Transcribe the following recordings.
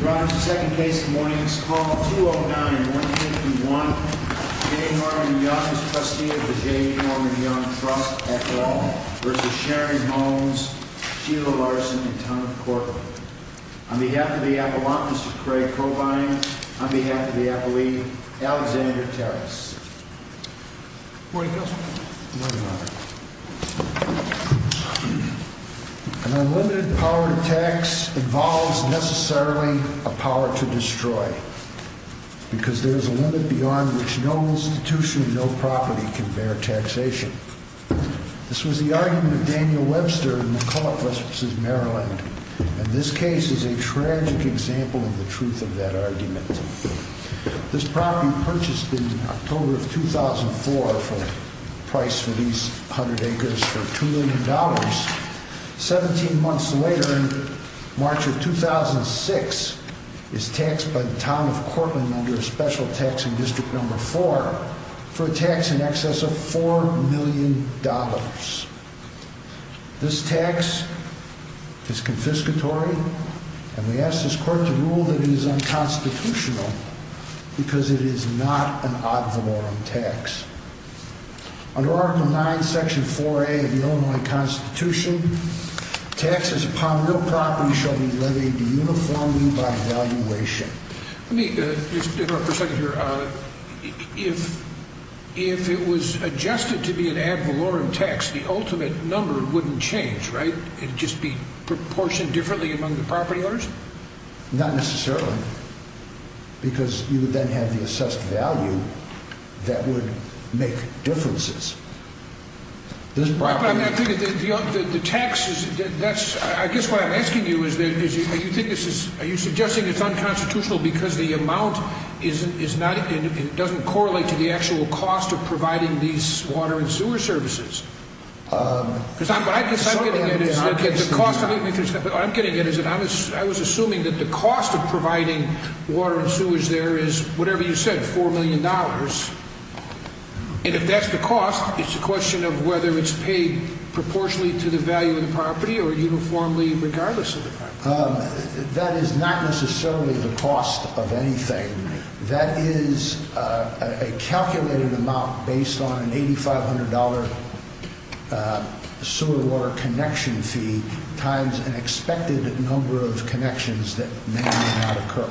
The second case of the morning is called 209-151, J. Norman Young v. Sharon Holmes, Sheila Larson, and Tom Corcoran. On behalf of the Appellant, Mr. Craig Cobine. On behalf of the Appellee, Alexander Terris. Good morning, Counselor. Good morning, Your Honor. An unlimited power to tax involves necessarily a power to destroy, because there is a limit beyond which no institution and no property can bear taxation. This was the argument of Daniel Webster in McCulloch v. Maryland, and this case is a tragic example of the truth of that argument. This property purchased in October of 2004 for a price for these 100 acres for $2 million. 17 months later, in March of 2006, is taxed by the town of Cortland under a special tax in District No. 4 for a tax in excess of $4 million. This tax is confiscatory, and we ask this Court to rule that it is unconstitutional, because it is not an ad valorem tax. Under Article 9, Section 4A of the Illinois Constitution, taxes upon real property shall be levied uniformly by evaluation. Let me just interrupt for a second here. If it was adjusted to be an ad valorem tax, the ultimate number wouldn't change, right? It would just be proportioned differently among the property owners? Not necessarily, because you would then have the assessed value that would make differences. I guess what I'm asking you is, are you suggesting it's unconstitutional because the amount doesn't correlate to the actual cost of providing these water and sewer services? I was assuming that the cost of providing water and sewers there is, whatever you said, $4 million. And if that's the cost, it's a question of whether it's paid proportionally to the value of the property or uniformly regardless of the property. That is not necessarily the cost of anything. That is a calculated amount based on an $8,500 sewer water connection fee times an expected number of connections that may or may not occur.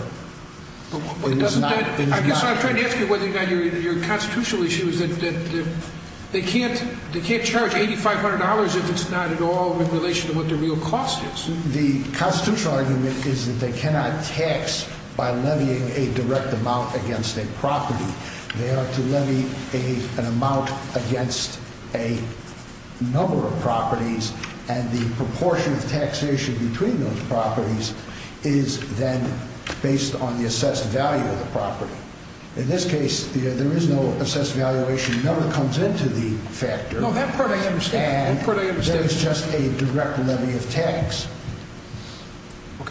I guess what I'm trying to ask you about your constitutional issue is that they can't charge $8,500 if it's not at all in relation to what the real cost is. The constitutional argument is that they cannot tax by levying a direct amount against a property. They are to levy an amount against a number of properties, and the proportion of taxation between those properties is then based on the assessed value of the property. In this case, there is no assessed valuation. It never comes into the factor. No, that part I understand. And there is just a direct levy of tax.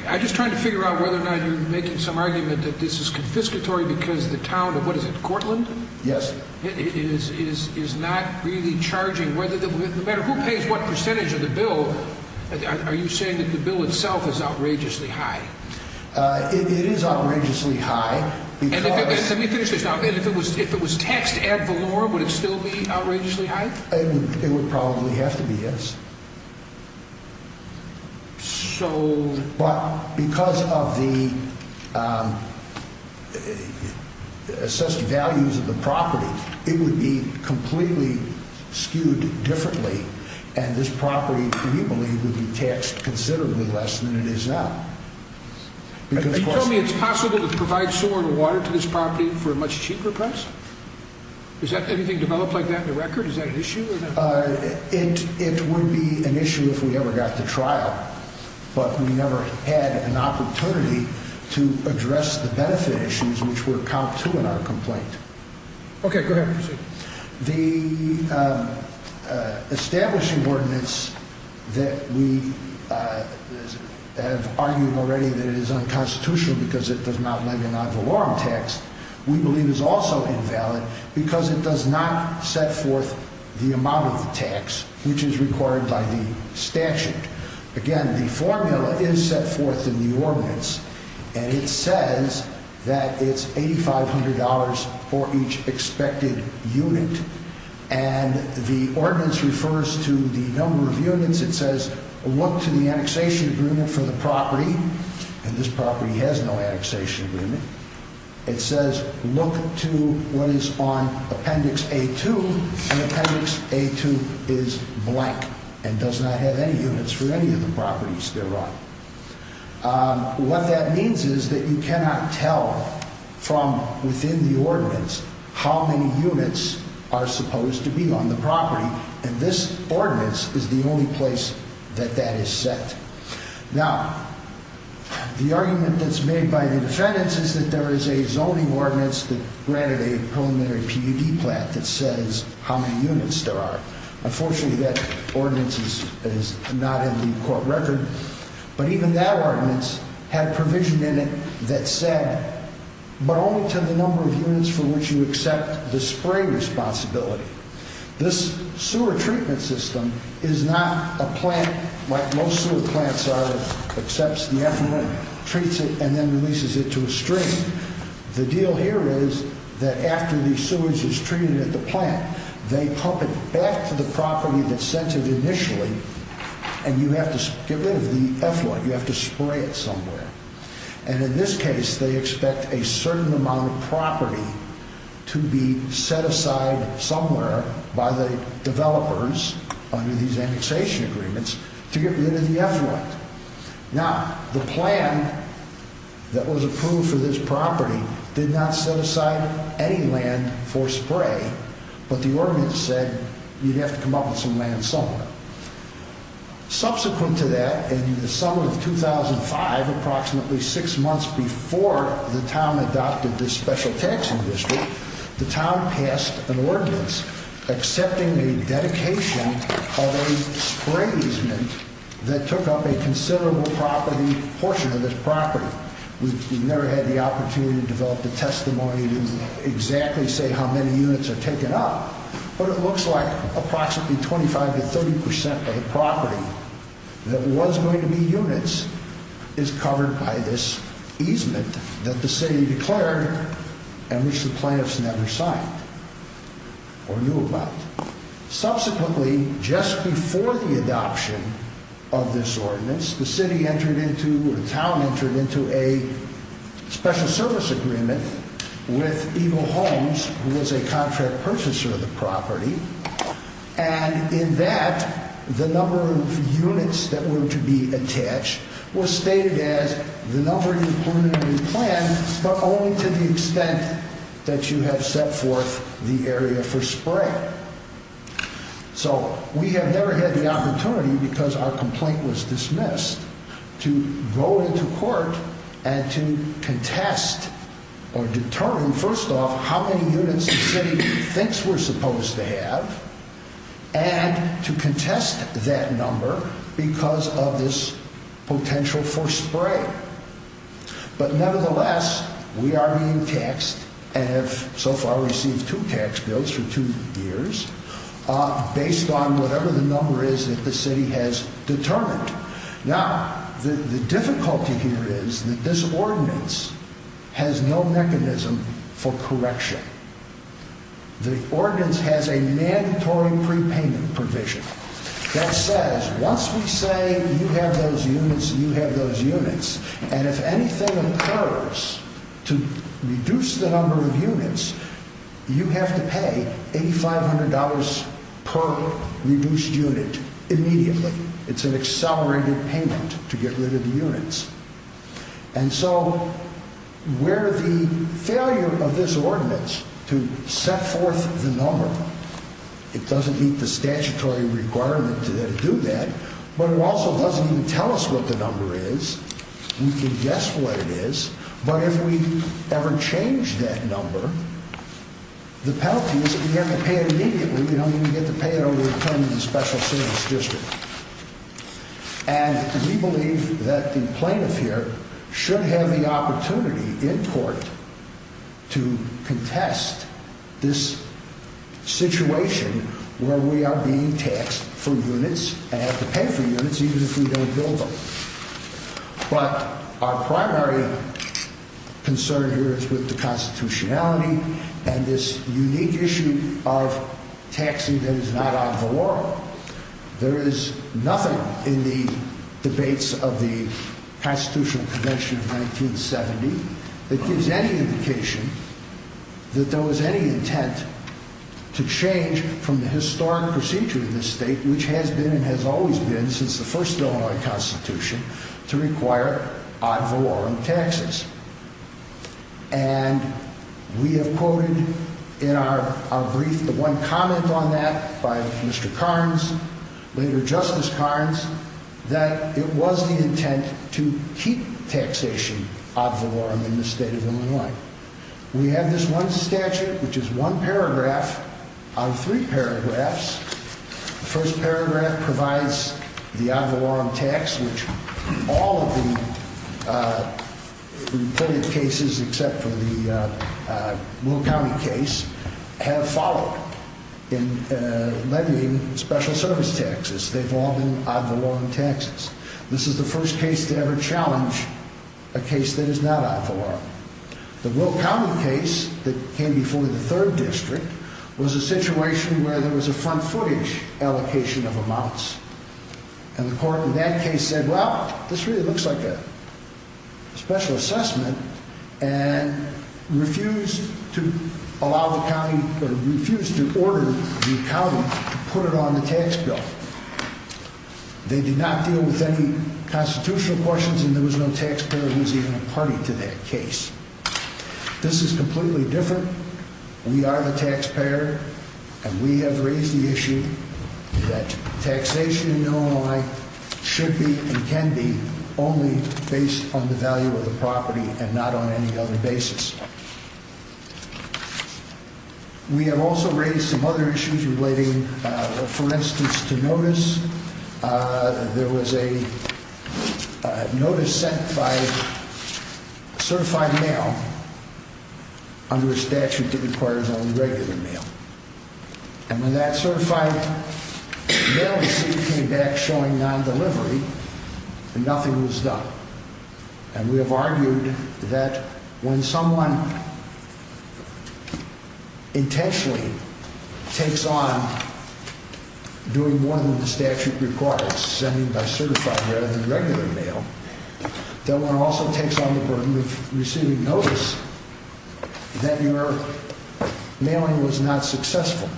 I'm just trying to figure out whether or not you're making some argument that this is confiscatory because the town of, what is it, Cortland? Yes. Is not really charging, no matter who pays what percentage of the bill, are you saying that the bill itself is outrageously high? It is outrageously high. Let me finish this. If it was taxed ad valorem, would it still be outrageously high? It would probably have to be, yes. But because of the assessed values of the property, it would be completely skewed differently, and this property, we believe, would be taxed considerably less than it is now. Are you telling me it's possible to provide sewer and water to this property for a much cheaper price? Is anything developed like that in the record? Is that an issue? It would be an issue if we ever got to trial, but we never had an opportunity to address the benefit issues which were comp two in our complaint. Okay, go ahead. The establishing ordinance that we have argued already that it is unconstitutional because it does not make an ad valorem tax, we believe is also invalid because it does not set forth the amount of the tax which is required by the statute. Again, the formula is set forth in the ordinance, and it says that it's $8,500 for each expected unit, and the ordinance refers to the number of units. It says look to the annexation agreement for the property, and this property has no annexation agreement. It says look to what is on Appendix A-2, and Appendix A-2 is blank and does not have any units for any of the properties thereof. What that means is that you cannot tell from within the ordinance how many units are supposed to be on the property, and this ordinance is the only place that that is set. Now, the argument that's made by the defendants is that there is a zoning ordinance that granted a preliminary PUD plan that says how many units there are. Unfortunately, that ordinance is not in the court record, but even that ordinance had provision in it that said but only to the number of units for which you accept the spray responsibility. This sewer treatment system is not a plant like most sewer plants are that accepts the effluent, treats it, and then releases it to a stream. The deal here is that after the sewage is treated at the plant, they pump it back to the property that sent it initially, and you have to get rid of the effluent. You have to spray it somewhere, and in this case, they expect a certain amount of property to be set aside somewhere by the developers under these annexation agreements to get rid of the effluent. Now, the plan that was approved for this property did not set aside any land for spray, but the ordinance said you'd have to come up with some land somewhere. Subsequent to that, in the summer of 2005, approximately six months before the town adopted this special taxing district, the town passed an ordinance accepting a dedication of a spray easement that took up a considerable portion of this property. We've never had the opportunity to develop a testimony to exactly say how many units are taken up, but it looks like approximately 25 to 30 percent of the property that was going to be units is covered by this easement that the city declared and which the plaintiffs never signed or knew about. Subsequently, just before the adoption of this ordinance, the city entered into or the town entered into a special service agreement with Eagle Homes, who was a contract purchaser of the property, and in that, the number of units that were to be attached was stated as the number included in the plan, but only to the extent that you have set forth the area for spray. So we have never had the opportunity, because our complaint was dismissed, to go into court and to contest or determine, first off, how many units the city thinks we're supposed to have and to contest that number because of this potential for spray. But nevertheless, we are being taxed and have so far received two tax bills for two years based on whatever the number is that the city has determined. Now, the difficulty here is that this ordinance has no mechanism for correction. The ordinance has a mandatory prepayment provision that says once we say you have those units, you have those units, and if anything occurs to reduce the number of units, you have to pay $8,500 per reduced unit immediately. It's an accelerated payment to get rid of the units, and so where the failure of this ordinance to set forth the number, it doesn't meet the statutory requirement to do that, but it also doesn't even tell us what the number is. We can guess what it is, but if we ever change that number, the penalty is that we have to pay it immediately. We don't even get to pay it over the term of the special service district, and we believe that the plaintiff here should have the opportunity in court to contest this situation where we are being taxed for units and have to pay for units even if we don't bill them. Now, our primary concern here is with the constitutionality and this unique issue of taxing that is not on the law. There is nothing in the debates of the Constitutional Convention of 1970 that gives any indication that there was any intent to change from the historic procedure in this state, which has been and has always been since the first Illinois Constitution, to require odd valorem taxes. And we have quoted in our brief the one comment on that by Mr. Carnes, later Justice Carnes, that it was the intent to keep taxation odd valorem in the state of Illinois. We have this one statute, which is one paragraph out of three paragraphs. The first paragraph provides the odd valorem tax, which all of the plaintiff cases, except for the Will County case, have followed in levying special service taxes. They've all been odd valorem taxes. This is the first case to ever challenge a case that is not odd valorem. The Will County case that came before the third district was a situation where there was a front footage allocation of amounts, and the court in that case said, well, this really looks like a special assessment and refused to order the county to put it on the tax bill. They did not deal with any constitutional questions, and there was no taxpayer who was even a party to that case. This is completely different. We are the taxpayer, and we have raised the issue that taxation in Illinois should be and can be only based on the value of the property and not on any other basis. We have also raised some other issues relating, for instance, to notice. There was a notice sent by certified mail under a statute that requires only regular mail. And when that certified mail receipt came back showing non-delivery, nothing was done. And we have argued that when someone intentionally takes on doing more than the statute requires, sending by certified rather than regular mail, that one also takes on the burden of receiving notice, then your mailing was not successful.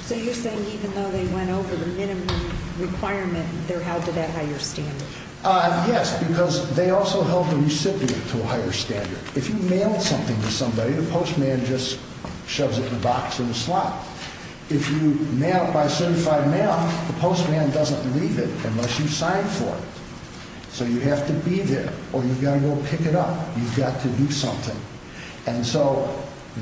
So you're saying even though they went over the minimum requirement, they're held to that higher standard? Yes, because they also held the recipient to a higher standard. If you mail something to somebody, the postman just shoves it in a box or a slot. If you mail it by certified mail, the postman doesn't leave it unless you sign for it. So you have to be there, or you've got to go pick it up. You've got to do something. And so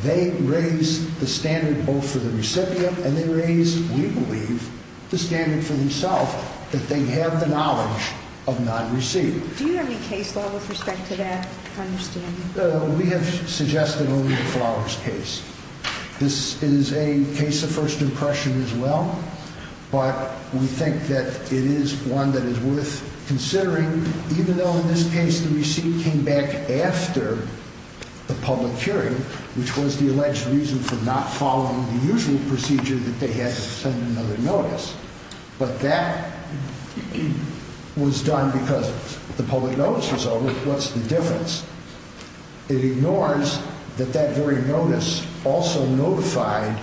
they raised the standard both for the recipient and they raised, we believe, the standard for themselves, that they have the knowledge of non-receipt. Do you have any case law with respect to that understanding? We have suggested only the Flowers case. This is a case of first impression as well, but we think that it is one that is worth considering, even though in this case the receipt came back after the public hearing, which was the alleged reason for not following the usual procedure that they had to send another notice. But that was done because the public notice was over. What's the difference? It ignores that that very notice also notified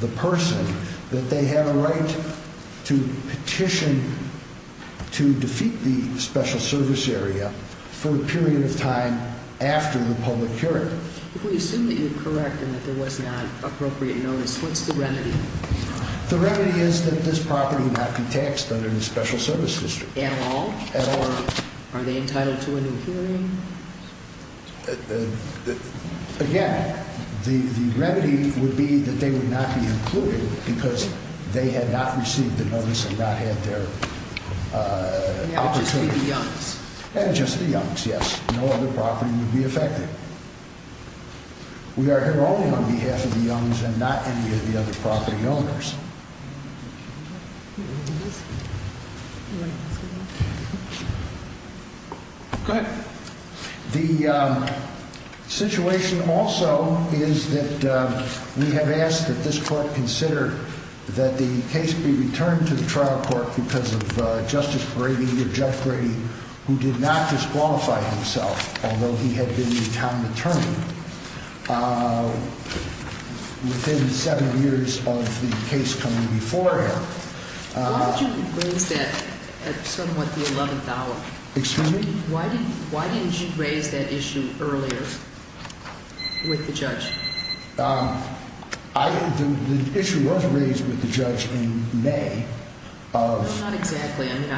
the person that they had a right to petition to defeat the special service area for a period of time after the public hearing. If we assume that you're correct and that there was not appropriate notice, what's the remedy? The remedy is that this property would not be taxed under the special service district. At all? Or are they entitled to a new hearing? Again, the remedy would be that they would not be included because they had not received the notice and not had their opportunity. And just the Youngs? Good. The situation also is that we have asked that this court consider that the case be returned to the trial court because of Justice Brady or Jeff Brady, who did not disqualify himself, although he had been the common attorney. Within seven years of the case coming before him. Why did you raise that at somewhat the 11th hour? Excuse me? Why didn't you raise that issue earlier with the judge? The issue was raised with the judge in May. Not exactly. I mean,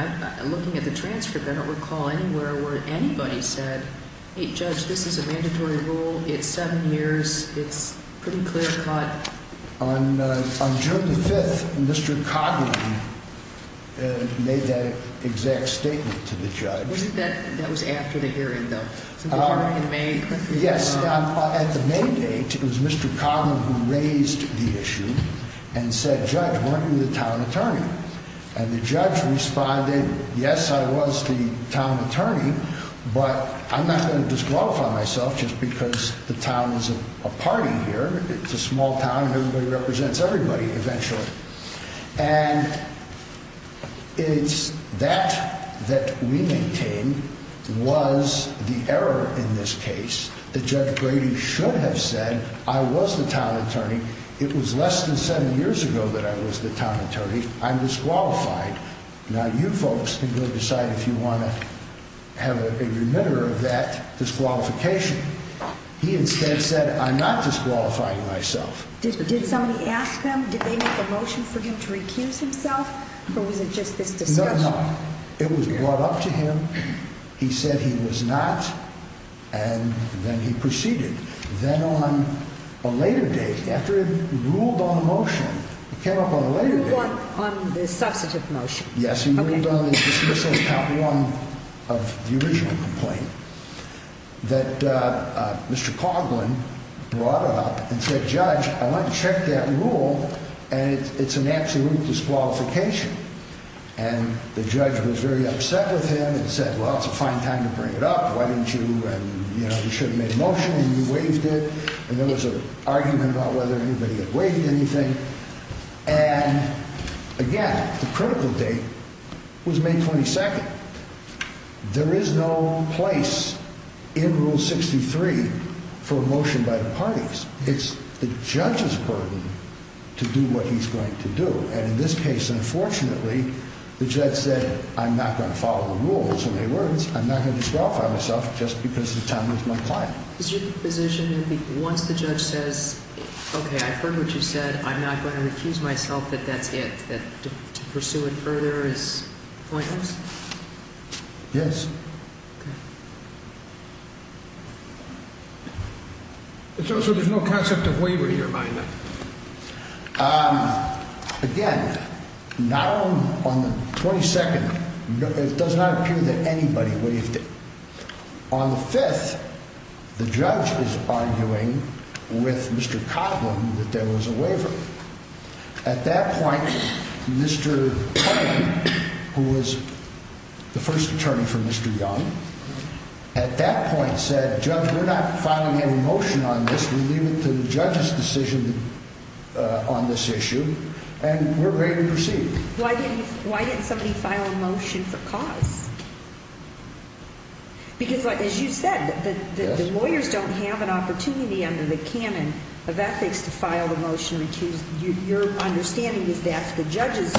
looking at the transcript, I don't recall anywhere where anybody said, hey, judge, this is a mandatory rule. It's seven years. It's pretty clear cut. On June the 5th, Mr. Coughlin made that exact statement to the judge. That was after the hearing, though. Yes. At the main date, it was Mr. Coughlin who raised the issue and said, judge, weren't you the town attorney? And the judge responded, yes, I was the town attorney, but I'm not going to disqualify myself just because the town is a party here. It's a small town and everybody represents everybody eventually. And it's that that we maintain was the error in this case, that Judge Brady should have said, I was the town attorney. It was less than seven years ago that I was the town attorney. I'm disqualified. Now, you folks can go decide if you want to have a reminder of that disqualification. He instead said, I'm not disqualifying myself. Did somebody ask him? Did they make a motion for him to recuse himself? Or was it just this discussion? No, no. It was brought up to him. He said he was not. And then he proceeded. Then on a later date, after it ruled on a motion, it came up on a later date. It ruled on the substantive motion. Yes, he ruled on the dismissal of the original complaint that Mr. Coughlin brought it up and said, judge, I want to check that rule. And it's an absolute disqualification. And the judge was very upset with him and said, well, it's a fine time to bring it up. Why didn't you? And, you know, you should have made a motion and you waived it. And there was an argument about whether anybody had waived anything. And again, the critical date was May 22nd. There is no place in Rule 63 for a motion by the parties. It's the judge's burden to do what he's going to do. And in this case, unfortunately, the judge said, I'm not going to follow the rules. In other words, I'm not going to disqualify myself just because the town was my client. Is your position that once the judge says, OK, I've heard what you said, I'm not going to recuse myself, that that's it, that to pursue it further is pointless? Yes. So there's no concept of waiver to your mind? Again, not on the 22nd. It does not appear that anybody waived it. On the 5th, the judge is arguing with Mr. Coughlin that there was a waiver. At that point, Mr. Coughlin, who was the first attorney for Mr. Young, at that point said, Judge, we're not filing a motion on this. We leave it to the judge's decision on this issue and we're ready to proceed. Why didn't somebody file a motion for cause? Because, as you said, the lawyers don't have an opportunity under the canon of ethics to file a motion to recuse. Your understanding is that's the judge's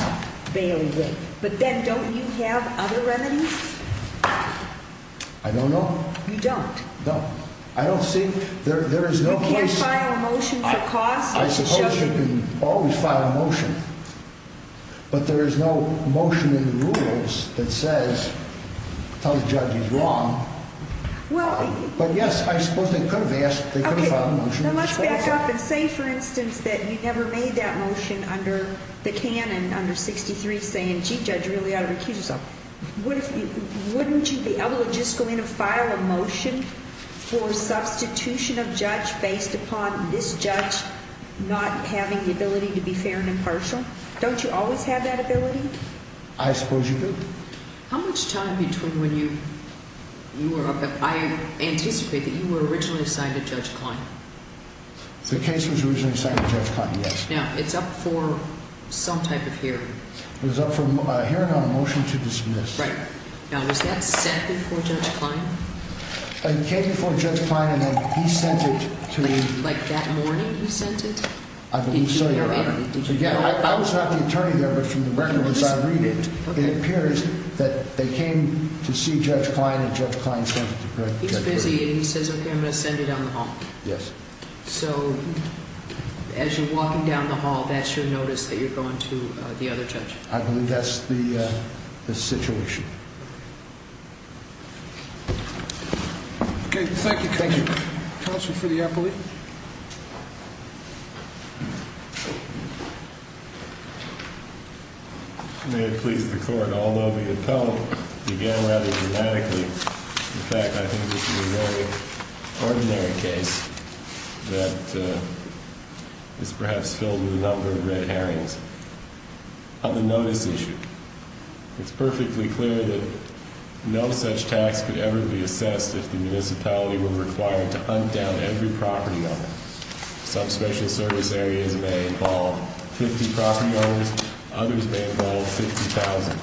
bailiwick. But then don't you have other remedies? I don't know. You don't? No. I don't think there is no case. You can't file a motion for cause? I suppose you can always file a motion, but there is no motion in the rules that tells the judge he's wrong. But yes, I suppose they could have filed a motion. Let's back up and say, for instance, that you never made that motion under the canon under 63 saying, gee, judge, you really ought to recuse yourself. Wouldn't you be able to just go in and file a motion for substitution of judge based upon this judge not having the ability to be fair and impartial? Don't you always have that ability? I suppose you do. How much time between when you were up and I anticipate that you were originally assigned to Judge Klein? The case was originally assigned to Judge Klein, yes. Now, it's up for some type of hearing. It was up for hearing on a motion to dismiss. Right. Now, was that sent before Judge Klein? It came before Judge Klein and then he sent it to me. I believe so, Your Honor. I was not the attorney there, but from the record as I read it, it appears that they came to see Judge Klein and Judge Klein sent it to Judge Klein. He's busy and he says, okay, I'm going to send it down the hall. Yes. So, as you're walking down the hall, that's your notice that you're going to the other judge? I believe that's the situation. Okay, thank you. Counsel for the appellee. May it please the Court, although the appellant began rather dramatically, in fact, I think this is a very ordinary case that is perhaps filled with a number of red herrings. On the notice issue, it's perfectly clear that no such tax could ever be assessed if the municipality were required to hunt down every property owner. Some special service areas may involve 50 property owners, others may involve 50,000.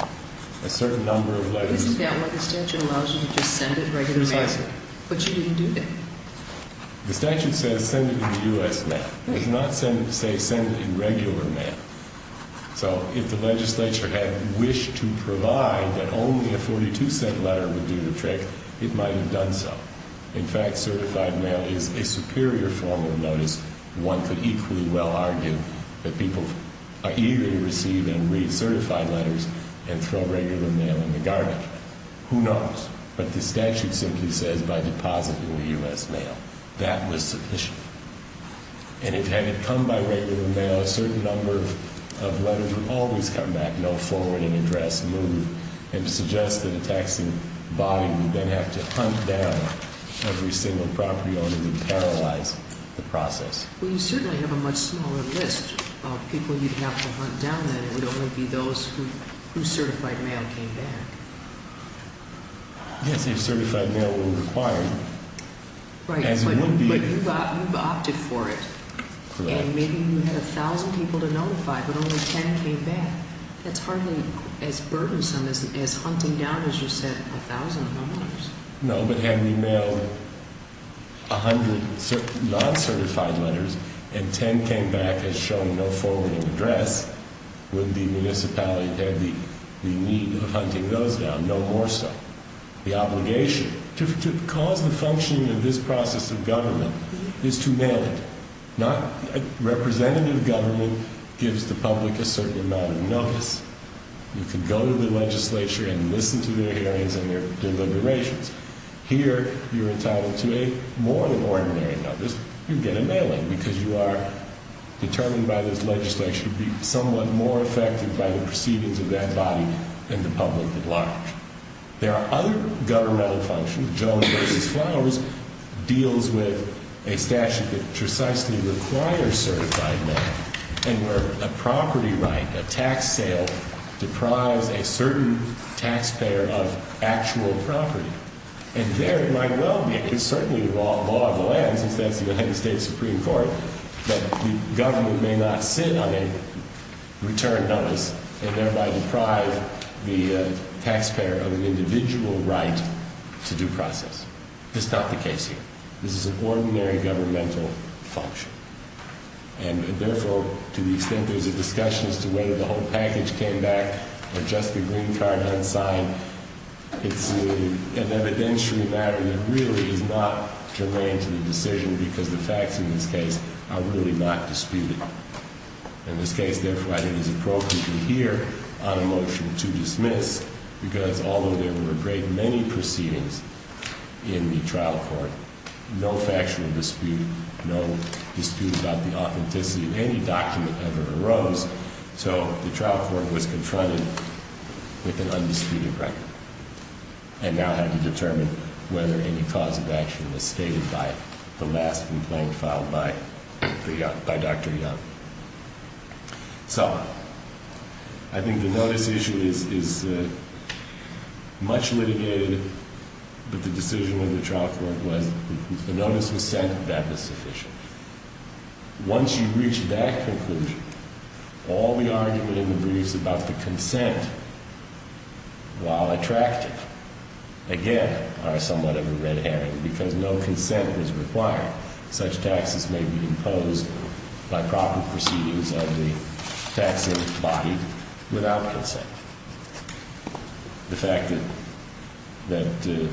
A certain number of letters... Isn't that why the statute allows you to just send it regular mail? Precisely. But you didn't do that. The statute says send it in U.S. mail. It does not say send it in regular mail. So, if the legislature had wished to provide that only a 42-cent letter would do the trick, it might have done so. In fact, certified mail is a superior form of notice. One could equally well argue that people are eager to receive and read certified letters and throw regular mail in the garbage. Who knows? But the statute simply says by depositing the U.S. mail. That was sufficient. And had it come by regular mail, a certain number of letters would always come back, no forwarding address moved. And to suggest that a taxing body would then have to hunt down every single property owner would paralyze the process. Well, you certainly have a much smaller list of people you'd have to hunt down than it would only be those whose certified mail came back. Yes, if certified mail were required. Right, but you opted for it. Correct. And maybe you had 1,000 people to notify, but only 10 came back. That's hardly as burdensome as hunting down, as you said, 1,000 homeowners. No, but had we mailed 100 non-certified letters and 10 came back as showing no forwarding address, would the municipality have the need of hunting those down, no more so? The obligation to cause the functioning of this process of government is to mail it. Representative government gives the public a certain amount of notice. You can go to the legislature and listen to their hearings and their deliberations. Here, you're entitled to more than ordinary notice. You get a mailing because you are determined by this legislature to be somewhat more affected by the proceedings of that body than the public at large. There are other governmental functions. Jones v. Flowers deals with a statute that precisely requires certified mail and where a property right, a tax sale, deprives a certain taxpayer of actual property. And there it might well be, it's certainly the law of the land, since that's the United States Supreme Court, that the government may not sit on a return notice and thereby deprive the taxpayer of an individual right to due process. That's not the case here. This is an ordinary governmental function. And therefore, to the extent there's a discussion as to whether the whole package came back or just the green card unsigned, it's an evidentiary matter that really is not germane to the decision because the facts in this case are really not disputed. In this case, therefore, I think it's appropriate to hear on a motion to dismiss, because although there were a great many proceedings in the trial court, no factual dispute, no dispute about the authenticity of any document ever arose. So the trial court was confronted with an undisputed record and now had to determine whether any cause of action was stated by the last complaint filed by Dr. Young. So I think the notice issue is much litigated, but the decision of the trial court was the notice was sent, that was sufficient. Once you reach that conclusion, all the argument in the briefs about the consent, while attractive, again, are somewhat of a red herring because no consent was required. Such taxes may be imposed by proper proceedings of the tax body without consent. The fact that the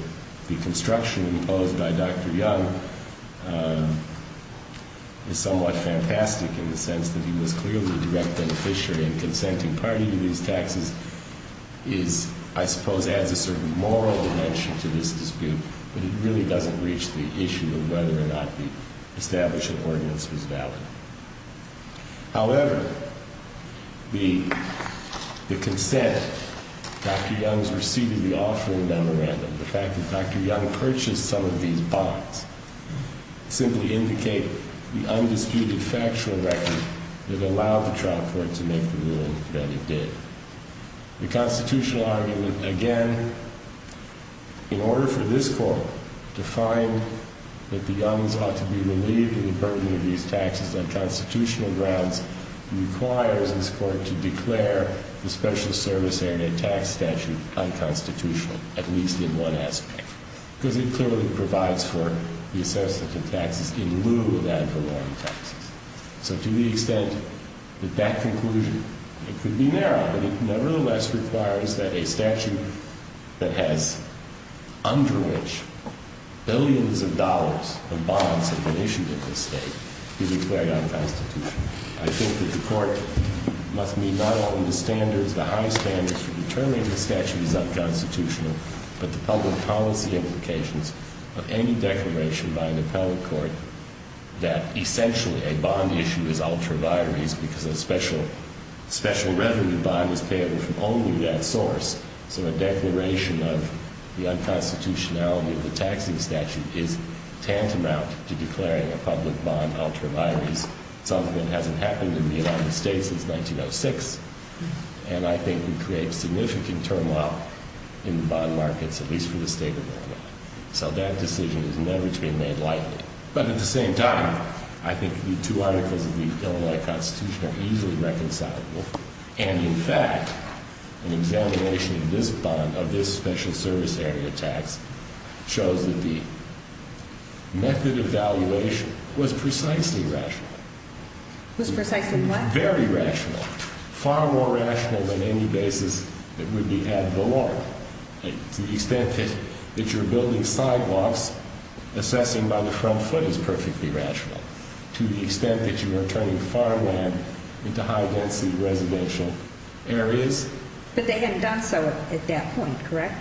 construction imposed by Dr. Young is somewhat fantastic in the sense that he was clearly a direct beneficiary and consenting party to these taxes is, I suppose, adds a certain moral dimension to this dispute, but it really doesn't reach the issue of whether or not the establishment ordinance was valid. However, the consent, Dr. Young's receipt of the offering memorandum, the fact that Dr. Young purchased some of these bonds, simply indicate the undisputed factual record that allowed the trial court to make the ruling that it did. The constitutional argument, again, in order for this court to find that the Youngs ought to be relieved of the burden of these taxes on constitutional grounds, requires this court to declare the special service area tax statute unconstitutional, at least in one aspect, because it clearly provides for the assessment of taxes in lieu of ad valorem taxes. So to the extent that that conclusion, it could be narrow, but it nevertheless requires that a statute that has under which billions of dollars of bonds have been issued in this state be declared unconstitutional. I think that the court must meet not only the standards, the high standards for determining the statute is unconstitutional, but the public policy implications of any declaration by an appellate court that essentially a bond issue is ultra vires because a special revenue bond is paid from only that source. So a declaration of the unconstitutionality of the taxing statute is tantamount to declaring a public bond ultra vires. Something that hasn't happened in the United States since 1906, and I think would create significant turmoil in the bond markets, at least for the state of Illinois. So that decision is never to be made lightly. But at the same time, I think the two articles of the Illinois Constitution are easily reconcilable, and in fact, an examination of this bond, of this special service area tax, shows that the method of valuation was precisely rational. Was precisely what? Very rational. Far more rational than any basis that would be ad valorem. To the extent that you're building sidewalks, assessing by the front foot is perfectly rational. To the extent that you are turning farmland into high density residential areas. But they hadn't done so at that point, correct?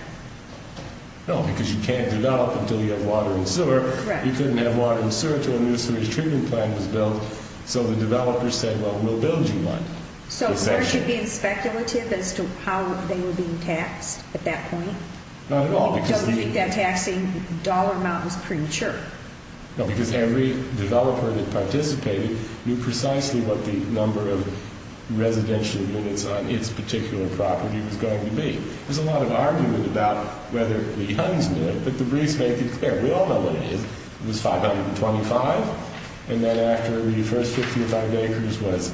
No, because you can't develop until you have water and sewer. You couldn't have water and sewer until a new sewage treatment plant was built. So the developers said, well, we'll build you one. So aren't you being speculative as to how they were being taxed at that point? Not at all. So you think that taxing dollar amount was premature? No, because every developer that participated knew precisely what the number of residential units on its particular property was going to be. There's a lot of argument about whether the Huns knew it, but the briefs make it clear. We all know what it is. It was 525. And then after the first 50 or 500 acres was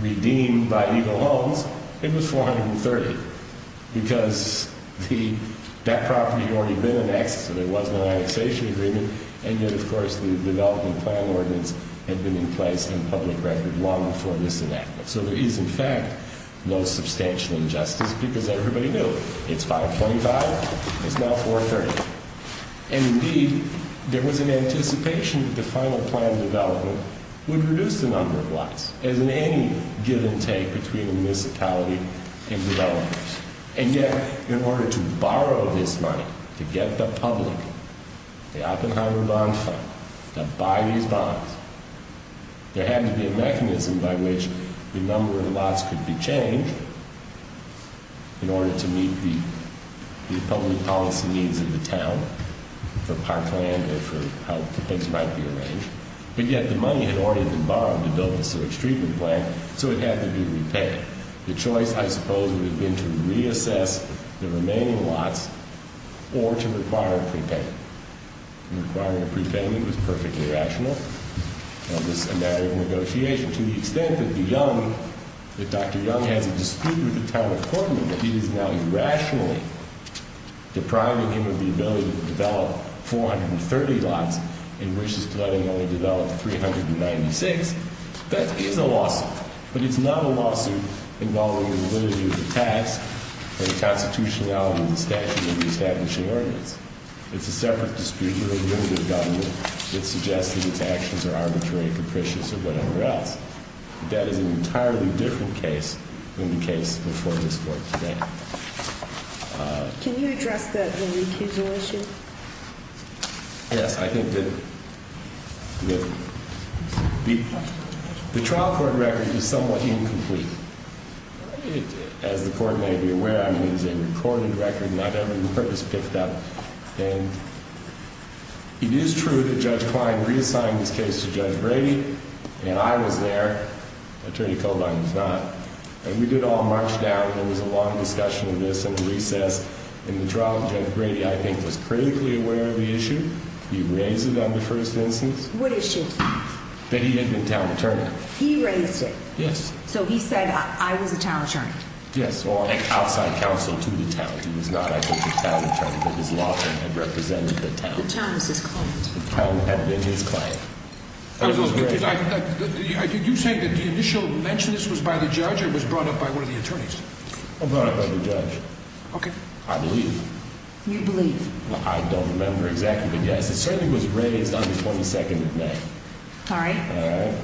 redeemed by Eagle Homes, it was 430. Because that property had already been annexed, so there was no annexation agreement. And yet, of course, the development plan ordinance had been in place in public record long before this enactment. So there is, in fact, no substantial injustice because everybody knew. It's 525. It's now 430. And indeed, there was an anticipation that the final plan development would reduce the number of lots. As in any give and take between a municipality and developers. And yet, in order to borrow this money, to get the public, the Oppenheimer Bond Fund, to buy these bonds, there had to be a mechanism by which the number of lots could be changed in order to meet the public policy needs of the town, for parkland or for how the place might be arranged. But yet, the money had already been borrowed to build the sewage treatment plant, so it had to be repaid. The choice, I suppose, would have been to reassess the remaining lots or to require a prepayment. Requiring a prepayment was perfectly rational. Now, this is a matter of negotiation. To the extent that Dr. Young has a dispute with the town of Portman, that he is now irrationally depriving him of the ability to develop 430 lots and wishes to let him only develop 396, that is a lawsuit. But it's not a lawsuit involving the validity of the tax or the constitutionality of the statute or the establishing ordinance. It's a separate dispute with a limited government that suggests that its actions are arbitrary, capricious, or whatever else. That is an entirely different case than the case before this Court today. Can you address the recusal issue? Yes, I think that the trial court record is somewhat incomplete. As the Court may be aware, I mean, it's a recorded record, not ever been purpose-picked up. And it is true that Judge Klein reassigned this case to Judge Grady, and I was there. Attorney Coburn was not. And we did all march down. There was a long discussion of this in recess. And the trial of Judge Grady, I think, was critically aware of the issue. He raised it on the first instance. What issue? That he had been town attorney. He raised it? Yes. So he said, I was a town attorney? Yes. He brought an outside counsel to the town. He was not, I think, a town attorney, but his law firm had represented the town. The town was his client. The town had been his client. You say that the initial mention of this was by the judge or was brought up by one of the attorneys? Brought up by the judge. I believe. You believe? I don't remember exactly, but yes. It certainly was raised on the 22nd of May. All right.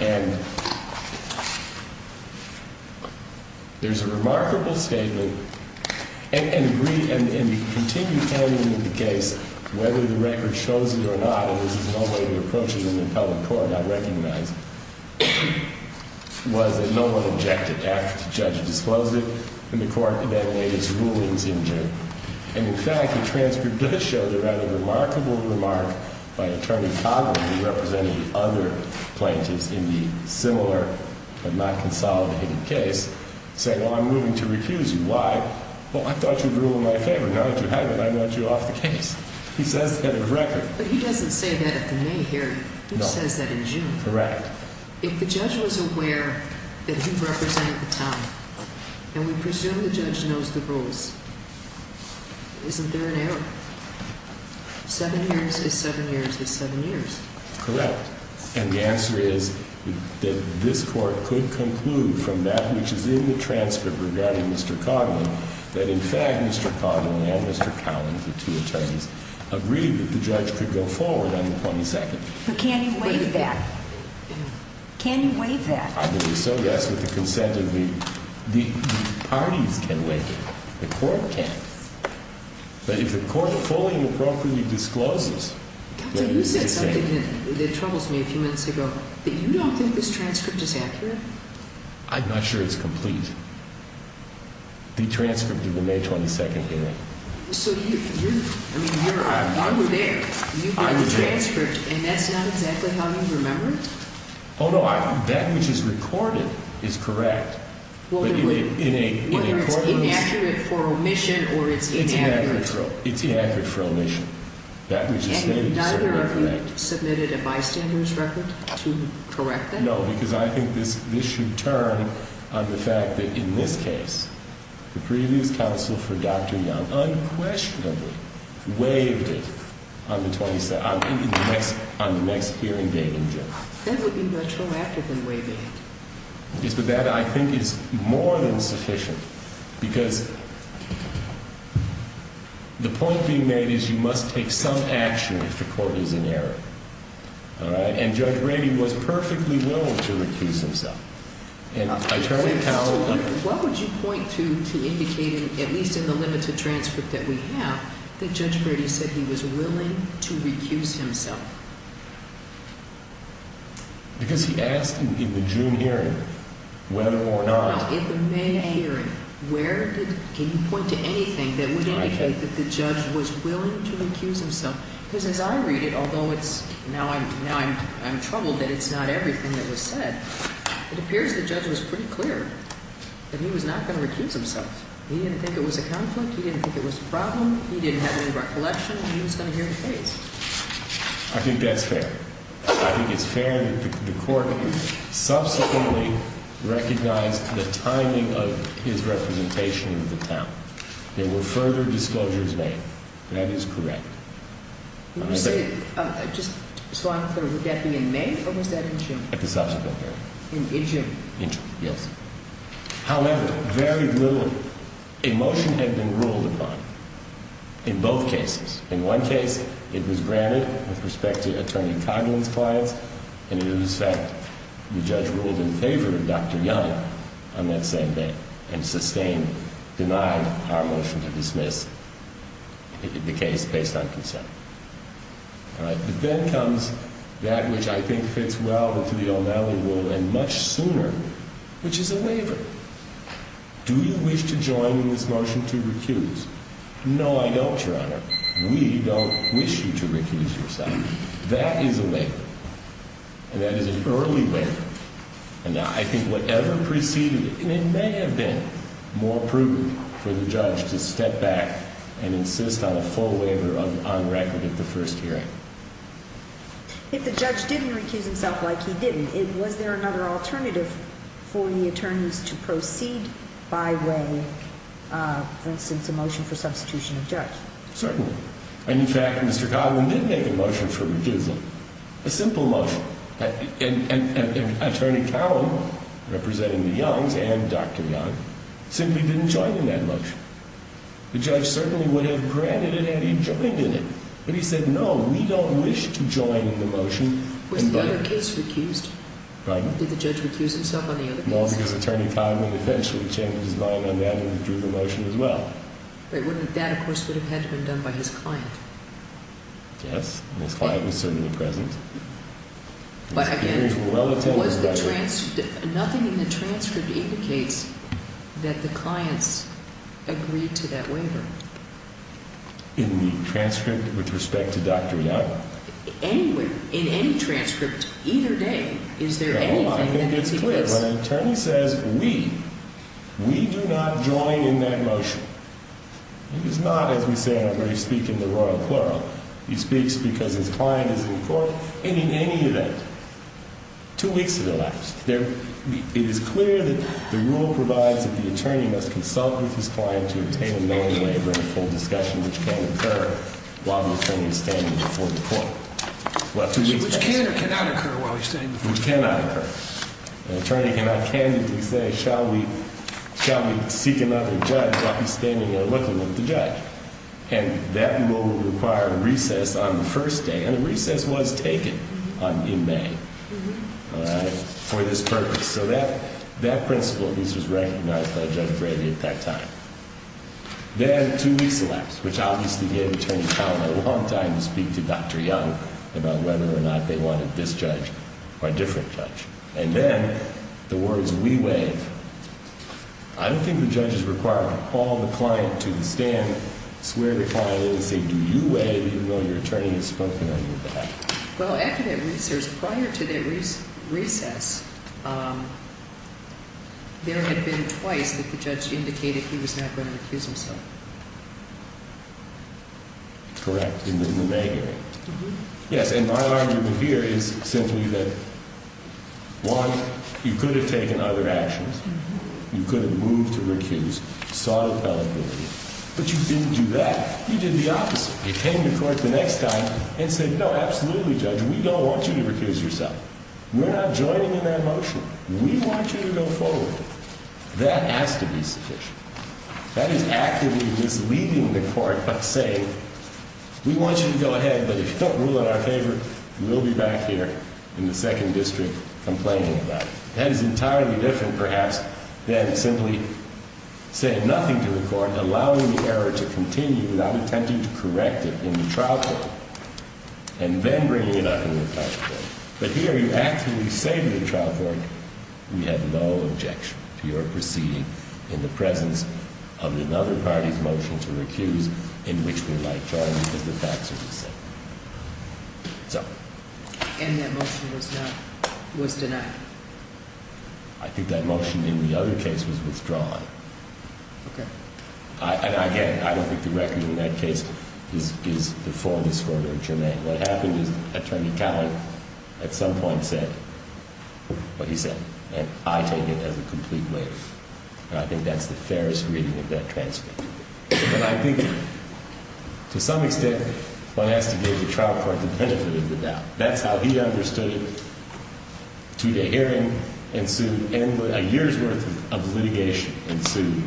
And. There's a remarkable statement. And we continue handling the case. Whether the record shows it or not. There is no way to approach it in the public court. I recognize. Was that no one objected after the judge disclosed it. And the court then laid its rulings in June. And in fact, the transcript does show that a remarkable remark by Attorney Coburn, who represented all of the attorneys. Other plaintiffs in the similar but not consolidated case. Say, well, I'm moving to recuse you. Why? Well, I thought you'd rule in my favor. Now that you haven't, I want you off the case. He says that in record. But he doesn't say that at the May hearing. He says that in June. Correct. If the judge was aware that he represented the town. And we presume the judge knows the rules. Isn't there an error? Seven years is seven years is seven years. Correct. And the answer is that this court could conclude from that which is in the transcript regarding Mr. Coburn. That in fact, Mr. Coburn and Mr. Collins, the two attorneys. Agreed that the judge could go forward on the 22nd. But can you waive that? Can you waive that? I believe so, yes, with the consent of the parties can waive it. The court can. But if the court fully and appropriately discloses. You said something that troubles me a few minutes ago that you don't think this transcript is accurate. I'm not sure it's complete. The transcript of the May 22nd hearing. So you're I mean, you're I'm there. You've got the transcript and that's not exactly how you remember it. Although that which is recorded is correct. Whether it's inaccurate for omission or it's inaccurate. It's inaccurate for omission. That was just stated. Neither of you submitted a bystander's record to correct that? No, because I think this should turn on the fact that in this case. The previous counsel for Dr. Young unquestionably waived it on the 27th. On the next hearing day in June. That would be much more accurate than waiving it. Yes, but that I think is more than sufficient. Because. The point being made is you must take some action if the court is in error. All right. And Judge Brady was perfectly willing to recuse himself. And attorney Powell. What would you point to indicating, at least in the limited transcript that we have, that Judge Brady said he was willing to recuse himself? Because he asked in the June hearing whether or not. No, in the May hearing. Where did, can you point to anything that would indicate that the judge was willing to recuse himself? Because as I read it, although it's, now I'm troubled that it's not everything that was said. It appears the judge was pretty clear that he was not going to recuse himself. He didn't think it was a conflict. He didn't think it was a problem. He didn't have any recollection. He was going to hear the case. I think that's fair. I think it's fair that the court subsequently recognized the timing of his representation in the town. There were further disclosures made. That is correct. Let me say. Just so I'm clear, would that be in May or was that in June? At the subsequent hearing. In June. In June, yes. However, very little emotion had been ruled upon in both cases. In one case, it was granted with respect to Attorney Coghlan's clients and it was sent. The judge ruled in favor of Dr. Young on that same day. And sustained, denied our motion to dismiss the case based on consent. But then comes that which I think fits well with the O'Malley rule and much sooner, which is a waiver. Do you wish to join in this motion to recuse? No, I don't, Your Honor. We don't wish you to recuse yourself. That is a waiver. And that is an early waiver. And I think whatever preceded it, it may have been more prudent for the judge to step back and insist on a full waiver on record at the first hearing. If the judge didn't recuse himself like he didn't, was there another alternative for the attorneys to proceed by way of, for instance, a motion for substitution of judge? Certainly. And in fact, Mr. Coghlan did make a motion for recusal. A simple motion. And Attorney Coghlan, representing the Youngs and Dr. Young, simply didn't join in that motion. The judge certainly would have granted it had he joined in it. But he said no, we don't wish to join in the motion. Was the other case recused? Pardon? Did the judge recuse himself on the other case? No, because Attorney Coghlan eventually changed his mind on that and withdrew the motion as well. But that, of course, would have had to have been done by his client. Yes, and his client was certainly present. But again, nothing in the transcript indicates that the clients agreed to that waiver. In the transcript with respect to Dr. Young? In any transcript, either day, is there anything that makes it clear? No, because when an attorney says we, we do not join in that motion. He does not, as we say in our briefs, speak in the royal plural. He speaks because his client is in court. And in any event, two weeks have elapsed. It is clear that the rule provides that the attorney must consult with his client to obtain a known waiver in full discussion, which can occur while the attorney is standing before the court. Which can or cannot occur while he's standing before the court? Which cannot occur. The attorney cannot candidly say, shall we seek another judge while he's standing there looking at the judge. And that rule would require a recess on the first day. And a recess was taken in May for this purpose. So that principle at least was recognized by Judge Brady at that time. Then two weeks elapsed, which obviously gave Attorney Coghlan a long time to speak to Dr. Young about whether or not they wanted this judge or a different judge. And then the words, we waive. I don't think the judge is required to call the client to the stand, swear the client in and say, do you waive, even though your attorney has spoken on your behalf. Well, after that recess, prior to that recess, there had been twice that the judge indicated he was not going to recuse himself. Correct, in the May hearing. Yes, and my argument here is simply that, one, you could have taken other actions. You could have moved to recuse, sought a felon guilty. But you didn't do that. You did the opposite. You came to court the next time and said, no, absolutely, Judge, we don't want you to recuse yourself. We're not joining in that motion. We want you to go forward. That has to be sufficient. That is actively misleading the court by saying, we want you to go ahead, but if you don't rule in our favor, we'll be back here in the second district complaining about it. That is entirely different, perhaps, than simply saying nothing to the court, allowing the error to continue without attempting to correct it in the trial court, and then bringing it up in the trial court. But here, you actively say to the trial court, we have no objection to your proceeding in the presence of another party's motion to recuse in which we would like to join because the facts are the same. So. And that motion was denied. I think that motion in the other case was withdrawn. Okay. And again, I don't think the record in that case is before this court or in Jermaine. What happened is Attorney Collins at some point said what he said, and I take it as a complete waive. And I think that's the fairest reading of that transcript. But I think to some extent, one has to give the trial court the benefit of the doubt. That's how he understood it. Two-day hearing ensued, and a year's worth of litigation ensued,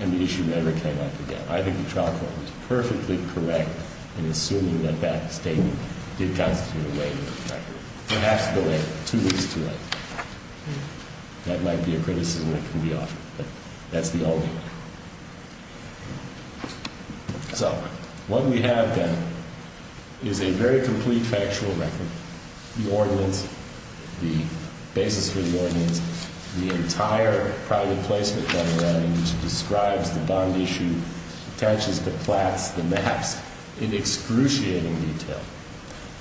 and the issue never came up again. I think the trial court was perfectly correct in assuming that that statement did constitute a waive of the record. Perhaps delay it two weeks too late. That might be a criticism that can be offered, but that's the only argument. So, what we have then is a very complete factual record. The ordinance, the basis for the ordinance, the entire private placement that we're at, which describes the bond issue, attaches the plats, the maps in excruciating detail.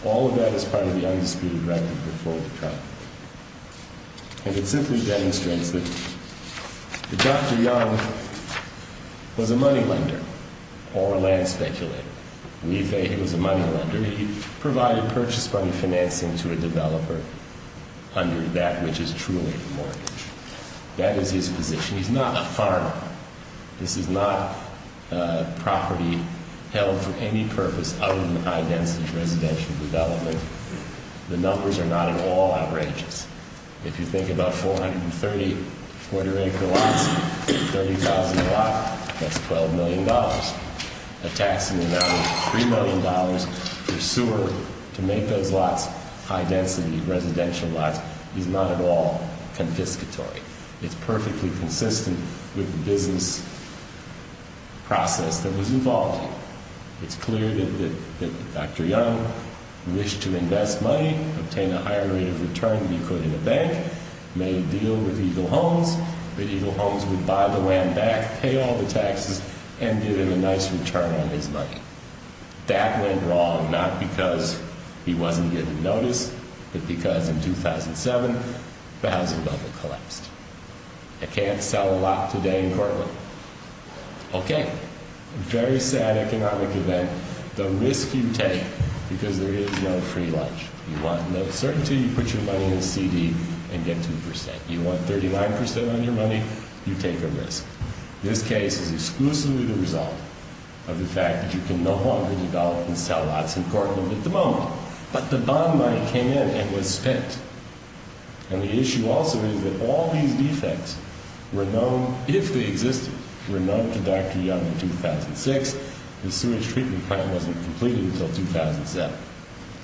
All of that is part of the undisputed record before the trial court. And it simply demonstrates that Dr. Young was a money lender or a land speculator. We say he was a money lender. He provided purchase fund financing to a developer under that which is truly a mortgage. That is his position. Now, this is not property held for any purpose other than high-density residential development. The numbers are not at all outrageous. If you think about 430 quarter-acre lots, 30,000 a lot, that's $12 million. A taxing amount of $3 million per sewer to make those lots high-density residential lots is not at all confiscatory. It's perfectly consistent with the business process that was involved. It's clear that Dr. Young wished to invest money, obtain a higher rate of return than he could in a bank, made a deal with Eagle Homes that Eagle Homes would buy the land back, pay all the taxes, and give him a nice return on his money. That went wrong, not because he wasn't given notice, but because in 2007 the housing bubble collapsed. I can't sell a lot today in Cortland. Okay, very sad economic event. The risk you take, because there is no free lunch, you want no certainty, you put your money in a CD and get 2%. You want 39% on your money, you take a risk. This case is exclusively the result of the fact that you can no longer develop and sell lots in Cortland at the moment. But the bond money came in and was spent. And the issue also is that all these defects were known, if they existed, were known to Dr. Young in 2006. The sewage treatment plant wasn't completed until 2007.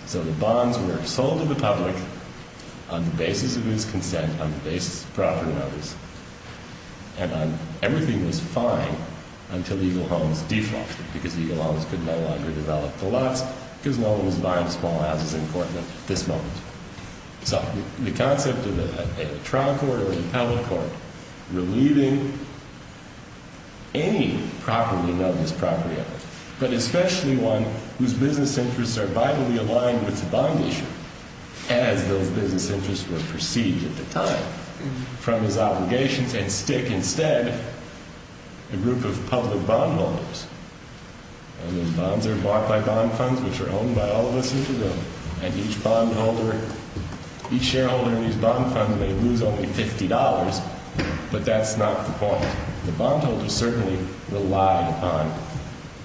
So the bonds were sold to the public on the basis of his consent, on the basis of property owners, and everything was fine until Eagle Homes defuncted, because Eagle Homes could no longer develop the lots, because no one was buying small houses in Cortland at this moment. So the concept of a trial court or a public court relieving any property owners, but especially one whose business interests are vitally aligned with the bond issue, as those business interests were perceived at the time, from his obligations, and stick instead a group of public bondholders. And the bonds are bought by bond funds, which are owned by all of us, and each shareholder in these bond funds may lose only $50, but that's not the point. The bondholders certainly relied on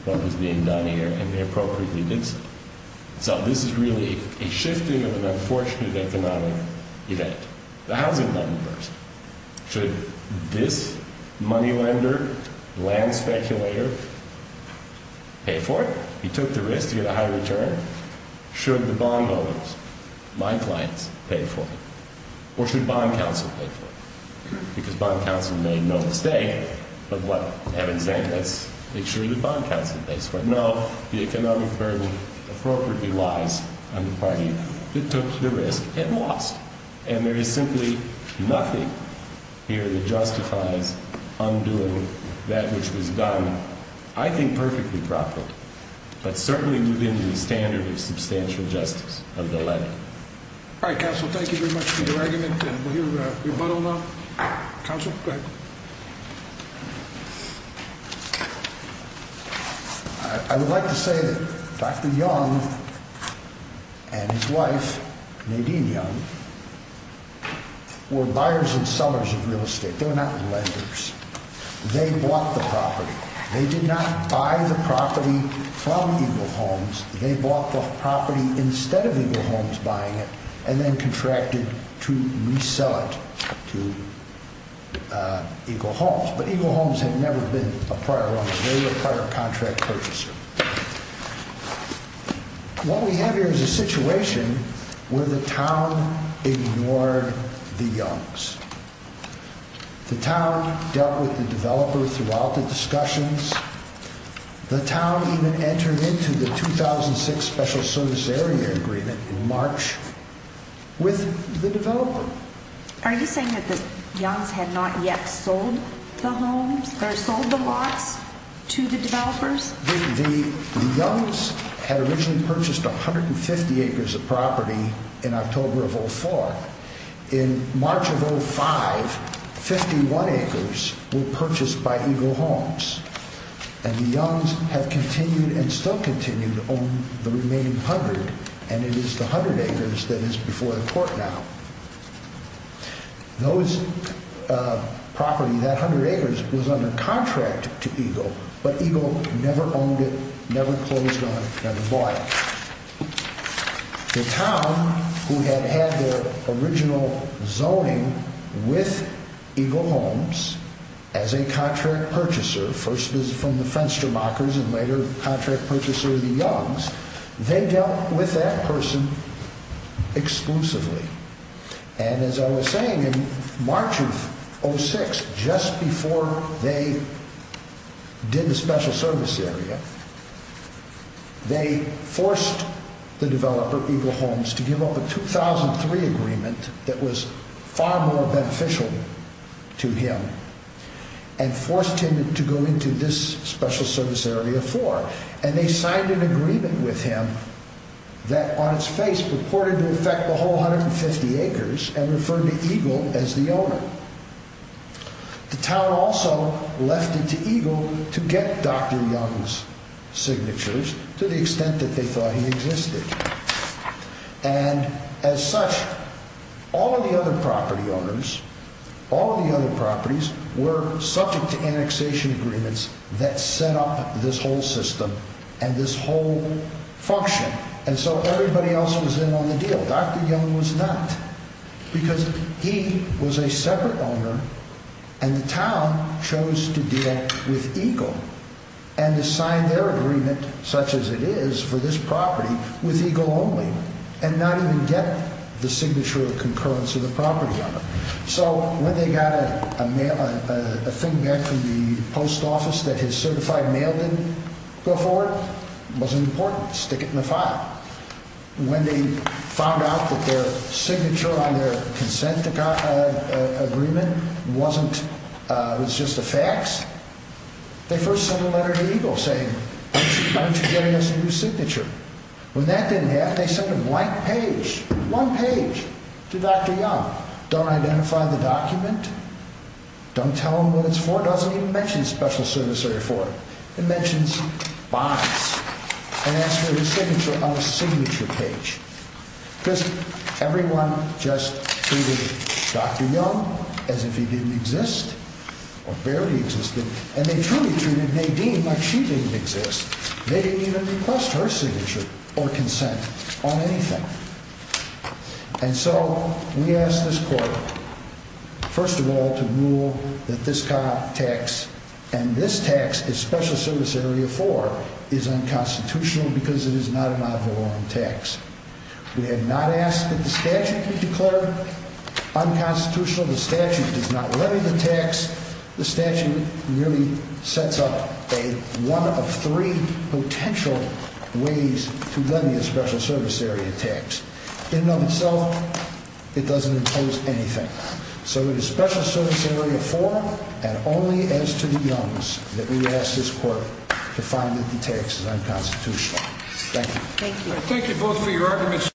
what was being done here, and they appropriately did so. So this is really a shifting of an unfortunate economic event. The housing money burst. Should this money lender, land speculator, pay for it? He took the risk to get a high return. Should the bondholders, my clients, pay for it? Or should bond counsel pay for it? Because bond counsel made no mistake of what I've been saying. Let's make sure that bond counsel pays for it. No, the economic burden appropriately lies on the party that took the risk and lost. And there is simply nothing here that justifies undoing that which was done, I think, perfectly properly, but certainly within the standard of substantial justice of the lender. All right, counsel, thank you very much for your argument. And will you rebuttal now? Counsel, go ahead. I would like to say that Dr. Young and his wife, Nadine Young, were buyers and sellers of real estate. They were not lenders. They bought the property. They did not buy the property from Eagle Homes. They bought the property instead of Eagle Homes buying it and then contracted to resell it to Eagle Homes. But Eagle Homes had never been a prior owner. They were a prior contract purchaser. What we have here is a situation where the town ignored the Youngs. The town dealt with the developer throughout the discussions. The town even entered into the 2006 Special Service Area Agreement in March with the developer. Are you saying that the Youngs had not yet sold the homes or sold the lots to the developers? The Youngs had originally purchased 150 acres of property in October of 2004. In March of 2005, 51 acres were purchased by Eagle Homes. And the Youngs have continued and still continue to own the remaining 100. And it is the 100 acres that is before the court now. That 100 acres was under contract to Eagle, but Eagle never owned it, never closed on it, never bought it. The town, who had had their original zoning with Eagle Homes as a contract purchaser, first was from the Fenstermachers and later contract purchaser of the Youngs, they dealt with that person exclusively. And as I was saying, in March of 2006, just before they did the Special Service Area, they forced the developer, Eagle Homes, to give up a 2003 agreement that was far more beneficial to him and forced him to go into this Special Service Area floor. And they signed an agreement with him that on its face purported to affect the whole 150 acres and referred to Eagle as the owner. The town also left it to Eagle to get Dr. Young's signatures to the extent that they thought he existed. And as such, all of the other property owners, all of the other properties, were subject to annexation agreements that set up this whole system and this whole function. And so everybody else was in on the deal. Dr. Young was not. Because he was a separate owner and the town chose to deal with Eagle and to sign their agreement, such as it is for this property, with Eagle only and not even get the signature of concurrence of the property owner. So when they got a mail, a thing back from the post office that his certified mail didn't go forward, it wasn't important. Stick it in the file. When they found out that their signature on their consent agreement wasn't, it was just a fax, they first sent a letter to Eagle saying, why don't you give us a new signature? When that didn't happen, they sent a blank page, one page, to Dr. Young. Don't identify the document. Don't tell him what it's for. It doesn't even mention Special Service Area 4. It mentions bonds and asks for his signature on a signature page. Because everyone just treated Dr. Young as if he didn't exist or barely existed. And they truly treated Nadine like she didn't exist. They didn't even request her signature or consent on anything. And so we ask this court, first of all, to rule that this tax, and this tax is Special Service Area 4, is unconstitutional because it is not a non-voluntary tax. We have not asked that the statute be declared unconstitutional. The statute does not render the tax. The statute merely sets up one of three potential ways to lend you a Special Service Area tax. In and of itself, it doesn't impose anything. So it is Special Service Area 4, and only as to the Youngs, that we ask this court to find that the tax is unconstitutional. Thank you. Thank you both for your arguments.